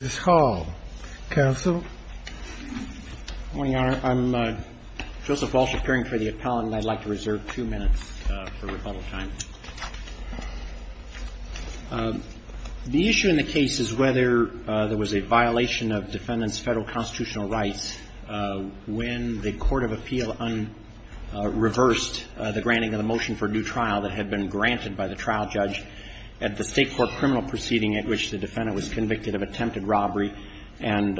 The issue in the case is whether there was a violation of defendant's federal constitutional rights when the Court of Appeal reversed the granting of the motion for a new trial that had been granted by the trial judge at the State Court criminal proceeding at which the defendant was convicted of attempted robbery. And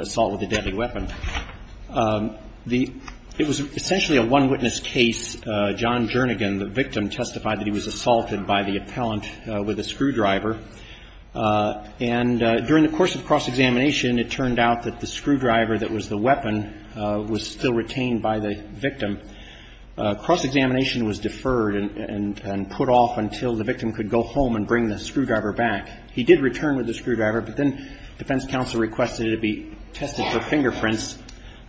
during the course of cross-examination, it turned out that the screwdriver that was the weapon was still retained by the victim. Cross-examination was deferred and put off until the victim could go home and bring the screwdriver back. He did return with the screwdriver, but then defense counsel said, well, you know, you can't do that. So the defense counsel requested it be tested for fingerprints,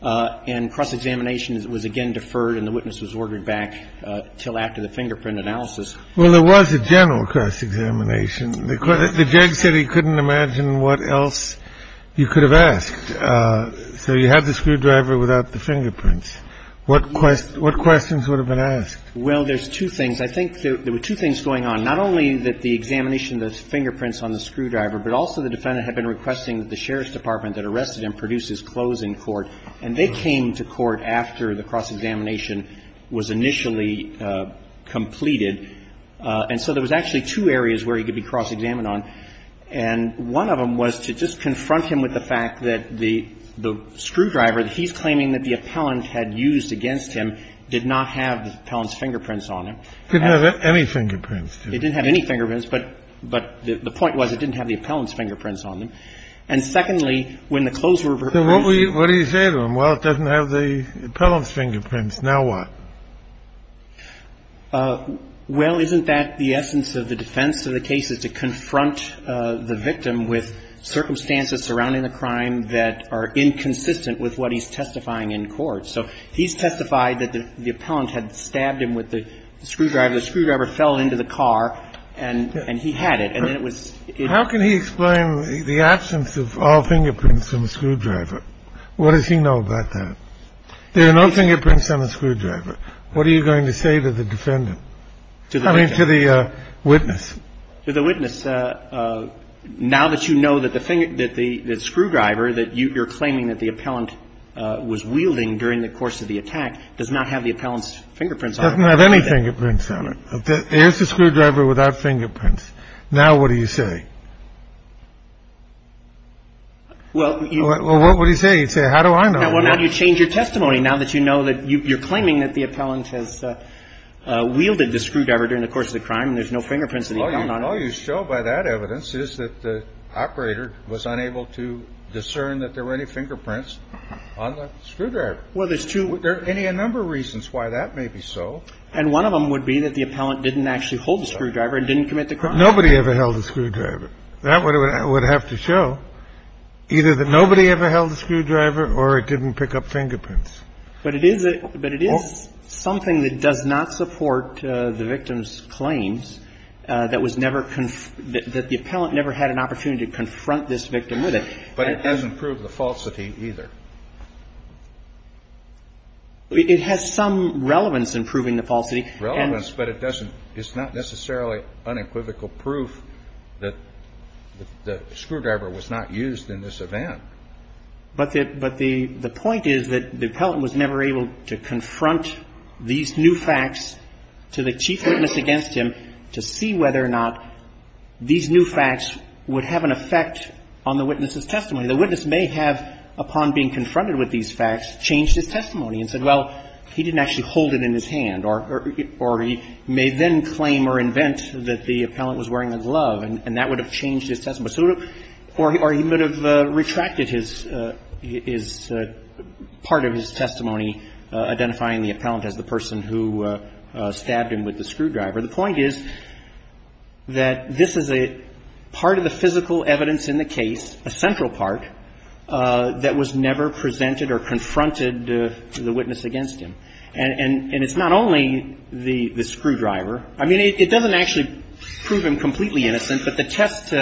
and cross-examination was again deferred and the witness was ordered back until after the fingerprint analysis. Well, there was a general cross-examination. The judge said he couldn't imagine what else you could have asked. So you had the screwdriver without the fingerprints. What questions would have been asked? Well, there's two things. I think there were two things going on. Not only that the examination of the fingerprints on the screwdriver, but also the defendant had been requesting that the sheriff's department that arrested him produce his closing court, and they came to court after the cross-examination was initially completed. And so there was actually two areas where he could be cross-examined on, and one of them was to just confront him with the fact that the screwdriver that he's claiming that the appellant had used against him did not have the appellant's fingerprints on it. It didn't have any fingerprints, did it? It didn't have any fingerprints, but the point was it didn't have the appellant's fingerprints on them. And secondly, when the close reference. So what do you say to him? Well, it doesn't have the appellant's fingerprints. Now what? Well, isn't that the essence of the defense of the case is to confront the victim with circumstances surrounding the crime that are inconsistent with what he's testifying in court. So he's testified that the appellant had stabbed him with the screwdriver. The screwdriver fell into the car, and he had it. And then it was. How can he explain the absence of all fingerprints on the screwdriver? What does he know about that? There are no fingerprints on the screwdriver. What are you going to say to the defendant? I mean, to the witness. To the witness. Now that you know that the screwdriver that you're claiming that the appellant was wielding during the course of the attack does not have the appellant's fingerprints on it. It doesn't have any fingerprints on it. Here's the screwdriver without fingerprints. Now what do you say? Well, you. Well, what would he say? He'd say, how do I know? Well, now you change your testimony. Now that you know that you're claiming that the appellant has wielded the screwdriver during the course of the crime, and there's no fingerprints of the appellant on it. And all you show by that evidence is that the operator was unable to discern that there were any fingerprints on the screwdriver. Well, there's two. There are any a number of reasons why that may be so. And one of them would be that the appellant didn't actually hold the screwdriver and didn't commit the crime. Nobody ever held a screwdriver. That would have to show either that nobody ever held a screwdriver or it didn't pick up fingerprints. But it is something that does not support the victim's claims, that the appellant never had an opportunity to confront this victim with it. But it doesn't prove the falsity either. It has some relevance in proving the falsity. Relevance, but it's not necessarily unequivocal proof that the screwdriver was not used in this event. But the point is that the appellant was never able to confront these new facts to the chief witness against him to see whether or not these new facts would have an effect on the witness's testimony. The witness may have, upon being confronted with these facts, changed his testimony and said, well, he didn't actually hold it in his hand. Or he may then claim or invent that the appellant was wearing a glove, and that would have changed his testimony. Or he may have retracted his part of his testimony, identifying the appellant as the person who stabbed him with the screwdriver. The point is that this is a part of the physical evidence in the case, a central part, that was never presented or confronted to the witness against him. And it's not only the screwdriver. I mean, it doesn't actually prove him completely innocent. But the test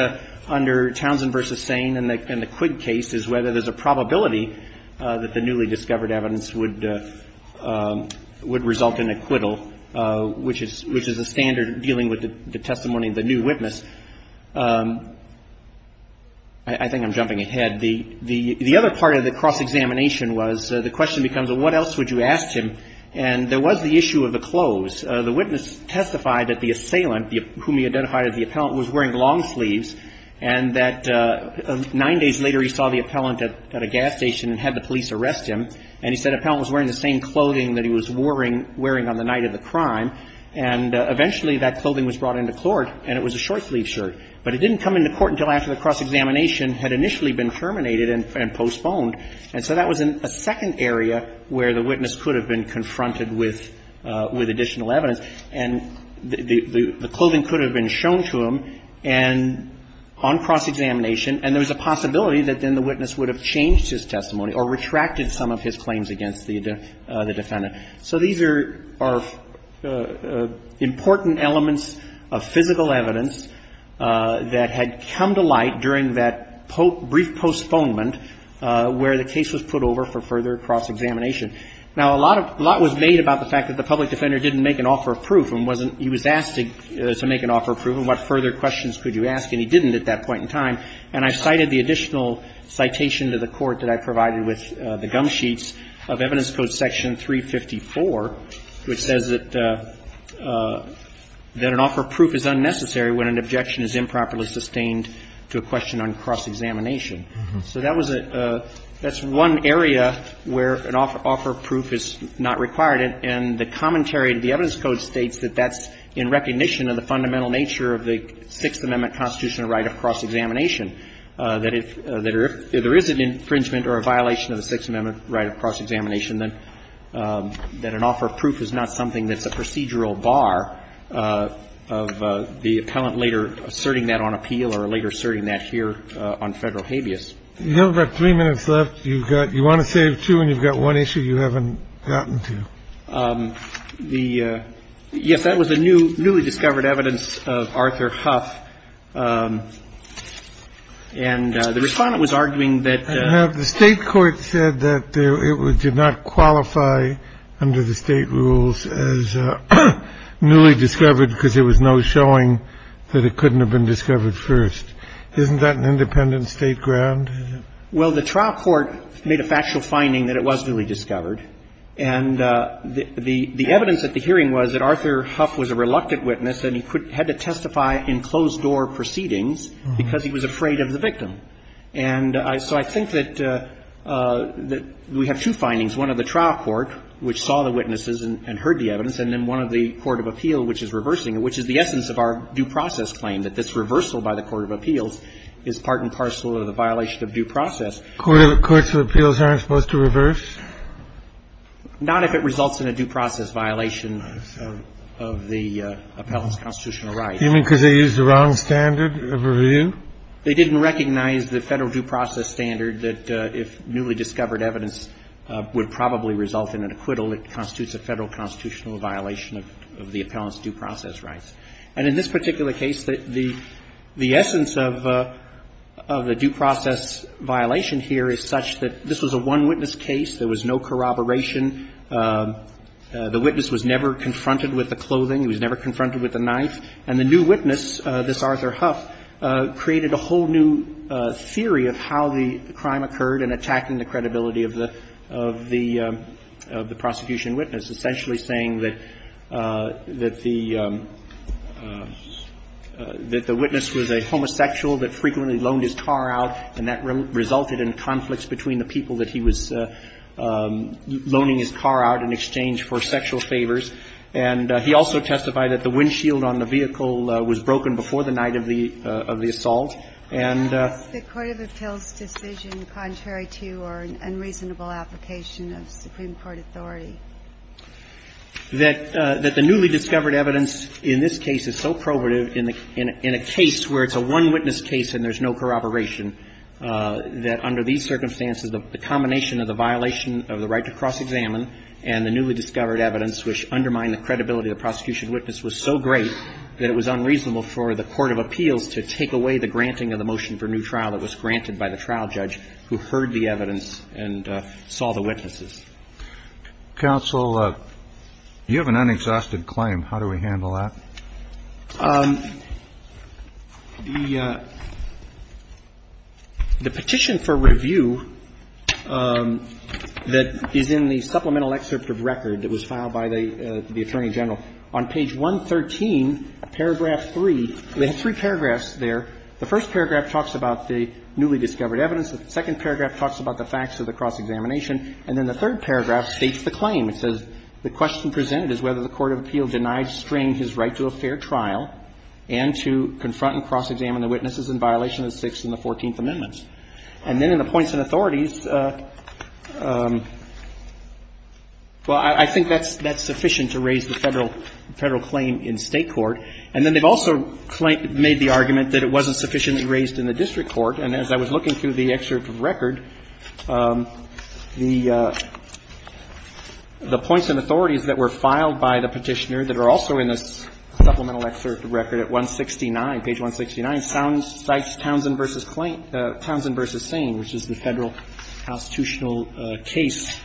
under Townsend v. Sain and the Quigg case is whether there's a probability that the newly discovered evidence would result in acquittal, which is a standard dealing with the testimony of the new witness. I think I'm jumping ahead. The other part of the cross-examination was the question becomes, well, what else would you ask him? And there was the issue of a close. The witness testified that the assailant, whom he identified as the appellant, was wearing long sleeves, and that nine days later he saw the appellant at a gas station and had the police arrest him. And he said the appellant was wearing the same clothing that he was wearing on the night of the crime. And eventually that clothing was brought into court, and it was a short-sleeved shirt. But it didn't come into court until after the cross-examination had initially been terminated and postponed. And so that was a second area where the witness could have been confronted with additional evidence. And the clothing could have been shown to him on cross-examination, and there was a possibility that then the witness would have changed his testimony or retracted some of his claims against the defendant. So these are important elements of physical evidence that had come to light during that brief postponement where the case was put over for further cross-examination. Now, a lot of – a lot was made about the fact that the public defender didn't make an offer of proof and wasn't – he was asked to make an offer of proof. And what further questions could you ask? And he didn't at that point in time. And I cited the additional citation to the Court that I provided with the gum sheets of Evidence Code Section 354, which says that an offer of proof is unnecessary when an objection is improperly sustained to a question on cross-examination. So that was a – that's one area where an offer of proof is not required. And the commentary to the Evidence Code states that that's in recognition of the fundamental nature of the Sixth Amendment constitutional right of cross-examination, that if there is an infringement or a violation of the Sixth Amendment right of cross-examination, that an offer of proof is not something that's a procedural bar of the appellant later asserting that on appeal or later asserting that here on Federal habeas. You have about three minutes left. You've got – you want to save two, and you've got one issue you haven't gotten to. The – yes, that was the newly discovered evidence of Arthur Huff. And the Respondent was arguing that the – the trial court did not qualify under the State rules as newly discovered because there was no showing that it couldn't have been discovered first. Isn't that an independent State ground? Well, the trial court made a factual finding that it was newly discovered. And the – the evidence at the hearing was that Arthur Huff was a reluctant witness and he had to testify in closed-door proceedings because he was afraid of the victim. And so I think that we have two findings, one of the trial court, which saw the witnesses and heard the evidence, and then one of the court of appeal, which is reversing it, which is the essence of our due process claim, that this reversal by the court of appeals is part and parcel of the violation of due process. Courts of appeals aren't supposed to reverse? Not if it results in a due process violation of the appellant's constitutional right. You mean because they used the wrong standard of review? They didn't recognize the Federal due process standard that if newly discovered evidence would probably result in an acquittal, it constitutes a Federal constitutional violation of the appellant's due process rights. And in this particular case, the essence of the due process violation here is such that this was a one-witness case. There was no corroboration. The witness was never confronted with the clothing. He was never confronted with a knife. And the new witness, this Arthur Huff, created a whole new theory of how the crime occurred in attacking the credibility of the prosecution witness, essentially saying that the witness was a homosexual that frequently loaned his car out, and that resulted in conflicts between the people that he was loaning his car out in exchange for sexual favors. And he also testified that the windshield on the vehicle was broken before the night of the assault. And the court of appeals decision contrary to or unreasonable application of Supreme Court authority. That the newly discovered evidence in this case is so probative in a case where it's a one-witness case and there's no corroboration, that under these circumstances the combination of the violation of the right to cross-examine and the newly discovered evidence which undermined the credibility of the prosecution witness was so great that it was unreasonable for the court of appeals to take away the granting of the motion for new trial that was granted by the trial judge who heard the evidence and saw the witnesses. Counsel, you have an unexhausted claim. How do we handle that? The petition for review that is in the supplemental excerpt of record that was filed by the Attorney General, on page 113, paragraph 3, they have three paragraphs there. The first paragraph talks about the newly discovered evidence. The second paragraph talks about the facts of the cross-examination. And then the third paragraph states the claim. It says, the question presented is whether the court of appeal denied strange his right to a fair trial and to confront and cross-examine the witnesses in violation of the Sixth and the Fourteenth Amendments. And then in the points and authorities, well, I think that's sufficient to raise the Federal claim in State court. And then they've also made the argument that it wasn't sufficiently raised in the district court. And as I was looking through the excerpt of record, the points and authorities that were filed by the Petitioner that are also in this supplemental excerpt of record at 169, page 169, cites Townsend v. Sane, which is the Federal constitutional case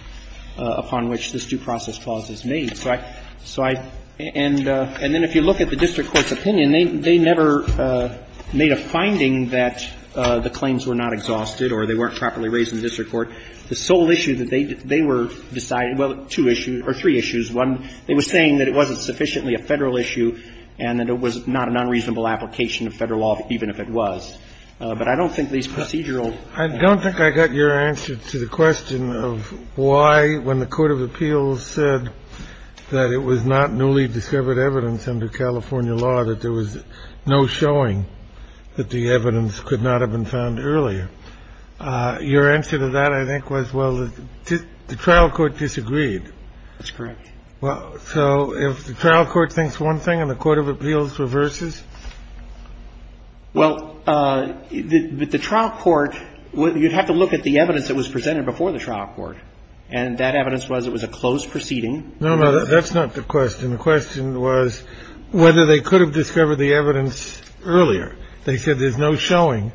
upon which this due process clause is made. So I – and then if you look at the district court's opinion, they never made a finding that the claims were not exhausted or they weren't properly raised in the district court. The sole issue that they were deciding – well, two issues or three issues. One, they were saying that it wasn't sufficiently a Federal issue and that it was not an unreasonable application of Federal law, even if it was. But I don't think these procedural – I don't think I got your answer to the question of why, when the court of appeals said that it was not newly discovered evidence under California law that there was no showing that the evidence could not have been found earlier, your answer to that, I think, was, well, the trial court disagreed. That's correct. So if the trial court thinks one thing and the court of appeals reverses? Well, the trial court – you'd have to look at the evidence that was presented before the trial court. And that evidence was it was a closed proceeding. No, no. That's not the question. The question was whether they could have discovered the evidence earlier. They said there's no showing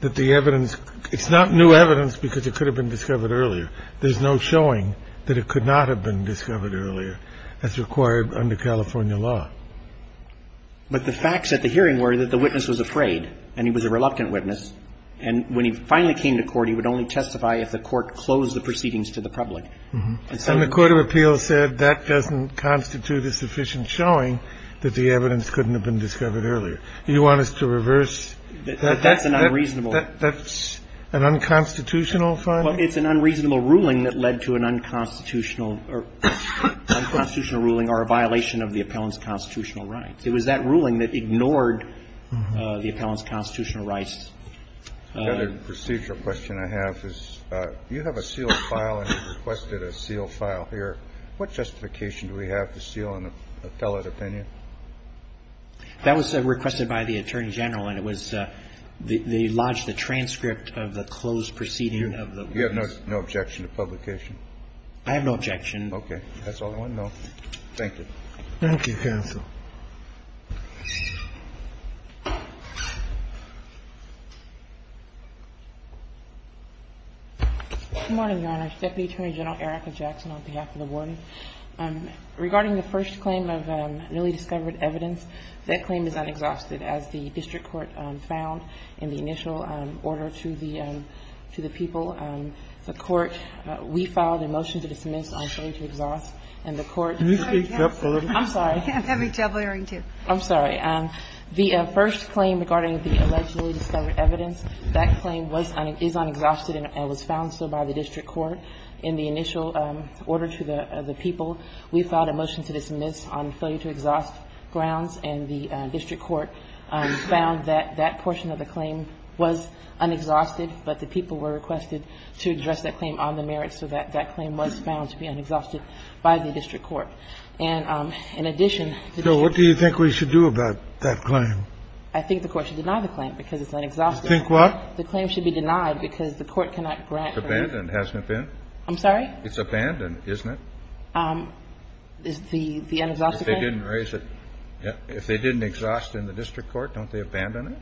that the evidence – it's not new evidence because it could have been discovered earlier. There's no showing that it could not have been discovered earlier as required under California law. But the facts at the hearing were that the witness was afraid and he was a reluctant witness. And when he finally came to court, he would only testify if the court closed the proceedings to the public. And the court of appeals said that doesn't constitute a sufficient showing that the evidence couldn't have been discovered earlier. Do you want us to reverse that? That's an unreasonable – That's an unconstitutional finding? Well, it's an unreasonable ruling that led to an unconstitutional – unconstitutional ruling or a violation of the appellant's constitutional rights. It was that ruling that ignored the appellant's constitutional rights. The other procedural question I have is you have a sealed file and you requested a sealed file here. What justification do we have to seal an appellate opinion? That was requested by the Attorney General and it was – they lodged a transcript of the closed proceeding of the witness. You have no objection to publication? I have no objection. Okay. That's all I want to know. Thank you. Thank you, counsel. Good morning, Your Honor. Deputy Attorney General Erica Jackson on behalf of the warden. Regarding the first claim of newly discovered evidence, that claim is unexhausted. As the district court found in the initial order to the people, the court, we filed a motion to dismiss on showing to exhaust and the court – Can you speak up a little bit? I'm sorry. The first claim regarding the allegedly discovered evidence, that claim is unexhausted and was found so by the district court. In the initial order to the people, we filed a motion to dismiss on failure to exhaust grounds and the district court found that that portion of the claim was unexhausted, but the people were requested to address that claim on the merits so that that claim was found to be unexhausted by the district court. And in addition – So what do you think we should do about that claim? I think the court should deny the claim because it's unexhausted. You think what? The claim should be denied because the court cannot grant – It's abandoned, hasn't it been? I'm sorry? It's abandoned, isn't it? The unexhausted claim? If they didn't raise it – if they didn't exhaust it in the district court, don't they abandon it?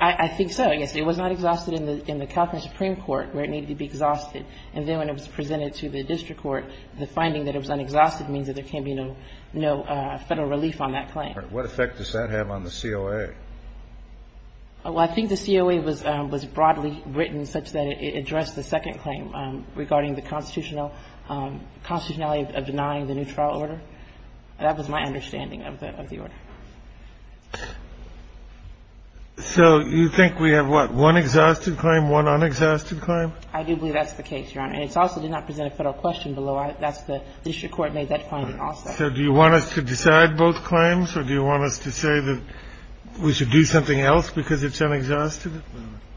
I think so, yes. It was not exhausted in the – in the California Supreme Court where it needed to be exhausted. And then when it was presented to the district court, the finding that it was unexhausted means that there can't be no – no Federal relief on that claim. All right. What effect does that have on the COA? Well, I think the COA was – was broadly written such that it addressed the second claim regarding the constitutional – constitutionality of denying the new trial order. That was my understanding of the – of the order. So you think we have, what, one exhausted claim, one unexhausted claim? I do believe that's the case, Your Honor. And it also did not present a Federal question below. That's the – the district court made that finding also. So do you want us to decide both claims, or do you want us to say that we should do something else because it's unexhausted?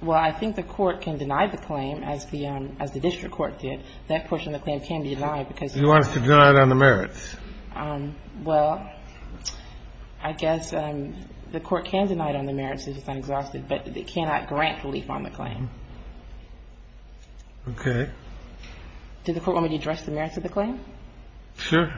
Well, I think the court can deny the claim, as the – as the district court did. That portion of the claim can be denied because it's – Do you want us to deny it on the merits? Well, I guess the court can deny it on the merits if it's unexhausted, but it cannot grant relief on the claim. Okay. Did the Court want me to address the merits of the claim? Sure.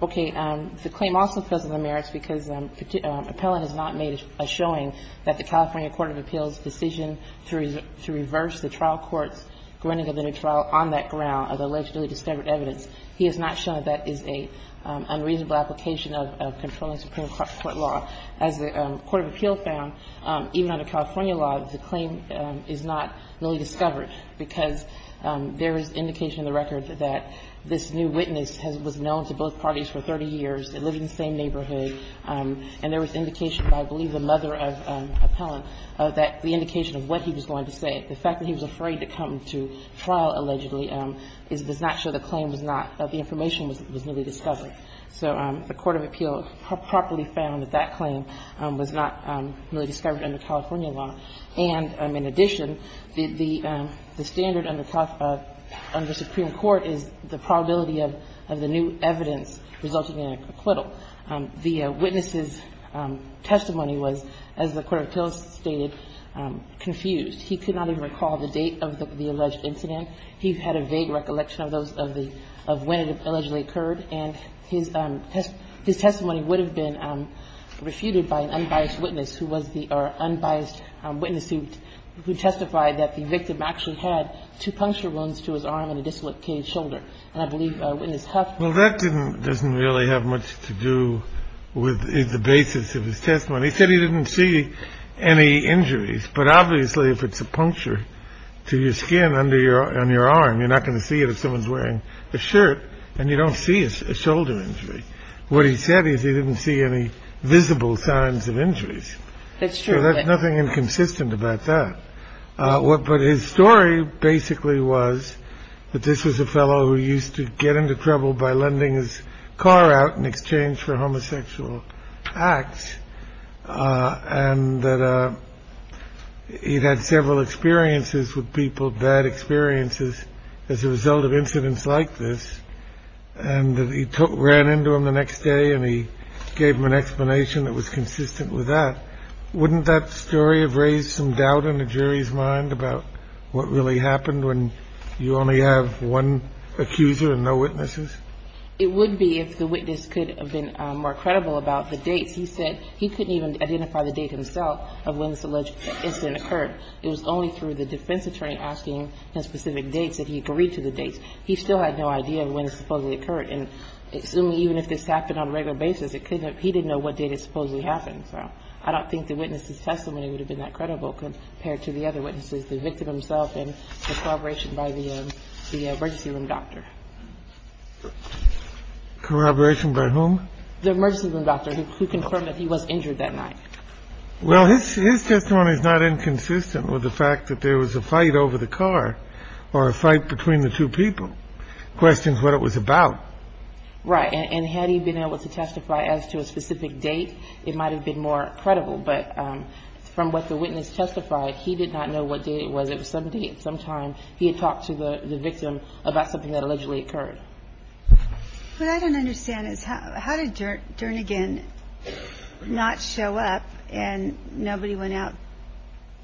Okay. The claim also fails on the merits because Appellant has not made a showing that the California court of appeals' decision to reverse the trial court's granting of the new trial on that ground of allegedly discovered evidence. He has not shown that that is an unreasonable application of controlling Supreme Court law. As the court of appeals found, even under California law, the claim is not really discovered because there is indication in the record that this new witness was known to both parties for 30 years. They lived in the same neighborhood. And there was indication by, I believe, the mother of Appellant that the indication of what he was going to say, the fact that he was afraid to come to trial allegedly, does not show the claim was not – that the information was newly discovered. So the court of appeals properly found that that claim was not really discovered under California law. And in addition, the standard under Supreme Court is the probability of the new evidence resulting in an acquittal. The witness's testimony was, as the court of appeals stated, confused. He could not even recall the date of the alleged incident. He had a vague recollection of those of the – of when it allegedly occurred. And his testimony would have been refuted by an unbiased witness who was the – or a witness who testified that the victim actually had two puncture wounds to his arm and a dislocated shoulder. And I believe Witness Huff – Well, that didn't – doesn't really have much to do with the basis of his testimony. He said he didn't see any injuries. But obviously, if it's a puncture to your skin under your – on your arm, you're not going to see it if someone's wearing a shirt and you don't see a shoulder injury. What he said is he didn't see any visible signs of injuries. That's true. There's nothing inconsistent about that. But his story basically was that this was a fellow who used to get into trouble by lending his car out in exchange for homosexual acts and that he'd had several experiences with people, bad experiences, as a result of incidents like this. And he took – ran into him the next day and he gave him an explanation that was consistent with that. Wouldn't that story have raised some doubt in the jury's mind about what really happened when you only have one accuser and no witnesses? It would be if the witness could have been more credible about the dates. He said he couldn't even identify the date himself of when this alleged incident occurred. It was only through the defense attorney asking the specific dates that he agreed to the dates. He still had no idea when it supposedly occurred. And assuming even if this happened on a regular basis, it couldn't have – he didn't know what date it supposedly happened. So I don't think the witness's testimony would have been that credible compared to the other witnesses, the victim himself and the corroboration by the emergency room doctor. Corroboration by whom? The emergency room doctor who confirmed that he was injured that night. Well, his testimony is not inconsistent with the fact that there was a fight over the car or a fight between the two people. The question is what it was about. Right. And had he been able to testify as to a specific date, it might have been more credible. But from what the witness testified, he did not know what date it was. It was some date, some time. He had talked to the victim about something that allegedly occurred. What I don't understand is how did Dernigan not show up and nobody went out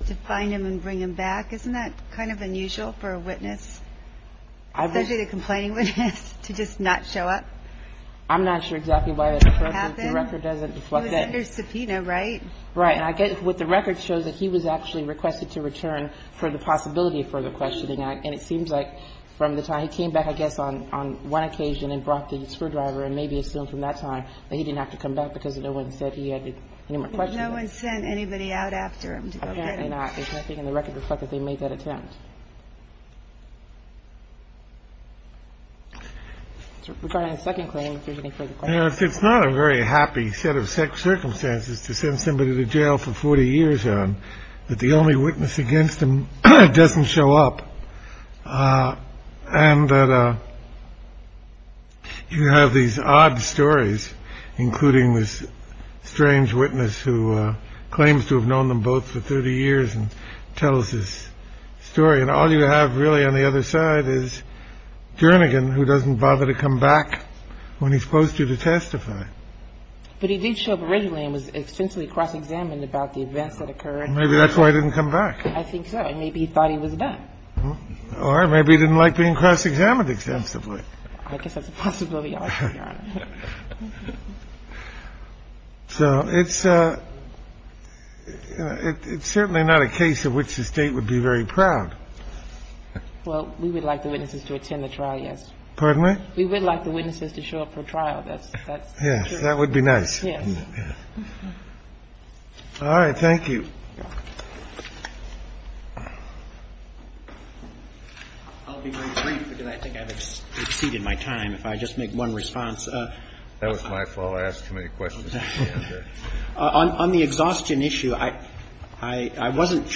to find him and bring him back? Isn't that kind of unusual for a witness, especially a complaining witness, to just not show up? I'm not sure exactly why the record doesn't reflect that. It was under subpoena, right? Right. And I guess what the record shows is that he was actually requested to return for the possibility of further questioning. And it seems like from the time he came back, I guess, on one occasion and brought the screwdriver and maybe assumed from that time that he didn't have to come back because no one said he had any more questions. But no one sent anybody out after him to go get him? Apparently not. And I think in the record reflects that they made that attempt. Regarding the second claim, if there's any further questions. It's not a very happy set of circumstances to send somebody to jail for 40 years on that. The only witness against him doesn't show up. And you have these odd stories, including this strange witness who claims to have known them both for 30 years and tells his story. And all you have really on the other side is Jernigan, who doesn't bother to come back when he's supposed to testify. But he did show up originally and was extensively cross-examined about the events that occurred. Maybe that's why he didn't come back. I think so. And maybe he thought he was done. Or maybe he didn't like being cross-examined extensively. I guess that's a possibility. So it's certainly not a case of which the State would be very proud. Well, we would like the witnesses to attend the trial. Yes. Pardon me? We would like the witnesses to show up for trial. That's that. Yes, that would be nice. Yes. All right. Thank you. I'll be very brief, because I think I've exceeded my time. If I just make one response. That was my fault. I asked too many questions. On the exhaustion issue, I wasn't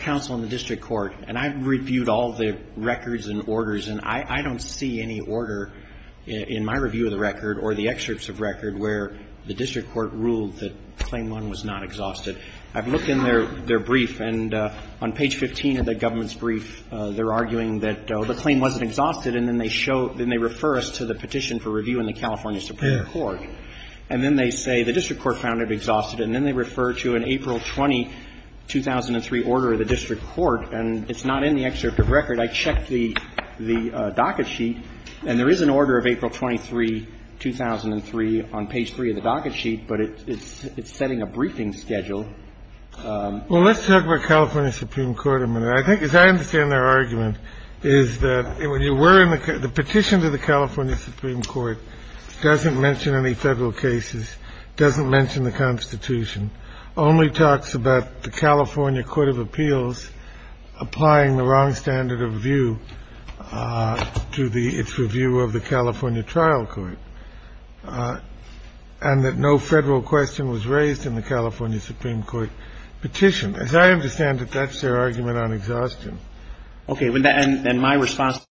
counsel in the district court. And I've reviewed all the records and orders. And I don't see any order in my review of the record or the excerpts of record where the district court ruled that Claim 1 was not exhausted. I've looked in their brief. And on page 15 of that government's brief, they're arguing that the claim wasn't exhausted. And then they refer us to the petition for review in the California Supreme Court. And then they say the district court found it exhausted. And then they refer to an April 20, 2003, order of the district court. And it's not in the excerpt of record. I checked the docket sheet. And there is an order of April 23, 2003, on page 3 of the docket sheet. But it's setting a briefing schedule. Well, let's talk about California Supreme Court a minute. I think, as I understand their argument, is that when you were in the petition to the California Supreme Court, it doesn't mention any Federal cases, doesn't mention the Constitution, only talks about the California Court of Appeals applying the wrong standard of review to its review of the California trial court, and that no Federal question was raised in the California Supreme Court petition. As I understand it, that's their argument on exhaustion. Okay. And my response to that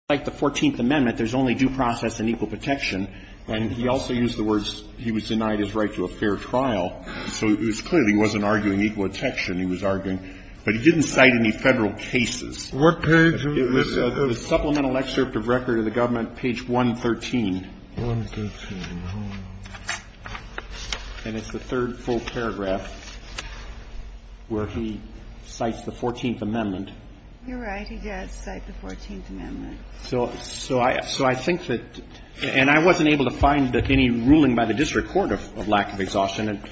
is that, like the 14th Amendment, there's only due process and equal protection. And he also used the words he was denied his right to a fair trial. So it was clear he wasn't arguing equal protection. He was arguing, but he didn't cite any Federal cases. It was the supplemental excerpt of record of the government, page 113. And it's the third full paragraph where he cites the 14th Amendment. You're right. He does cite the 14th Amendment. So I think that, and I wasn't able to find any ruling by the district court of lack of exhaustion.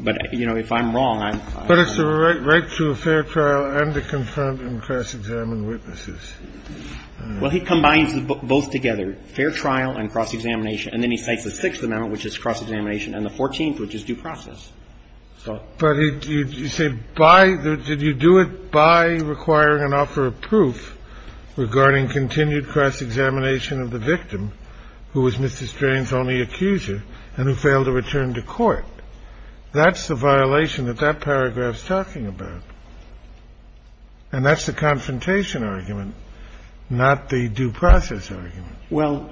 But, you know, if I'm wrong, I'm fine. But it's the right to a fair trial and to confront and cross-examine witnesses. Well, he combines them both together, fair trial and cross-examination. And then he cites the Sixth Amendment, which is cross-examination, and the 14th, which is due process. But you say by the – did you do it by requiring an offer of proof regarding continued cross-examination of the victim, who was Mr. Strain's only accuser and who failed to return to court? That's the violation that that paragraph's talking about. And that's the confrontation argument, not the due process argument. Well,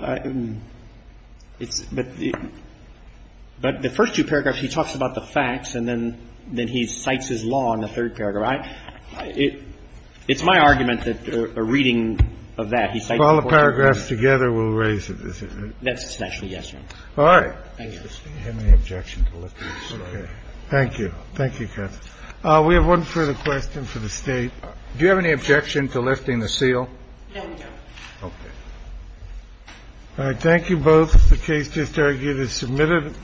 it's – but the first two paragraphs, he talks about the facts, and then he cites his law in the third paragraph. It's my argument that a reading of that, he cites the 14th Amendment. So all the paragraphs together will raise it, is it? That's actually yes, Your Honor. All right. Thank you. Do you have any objection to lifting the seal? Okay. Thank you. Thank you, counsel. We have one further question for the State. Do you have any objection to lifting the seal? No. Okay. All right. Thank you both. The case just argued is submitted.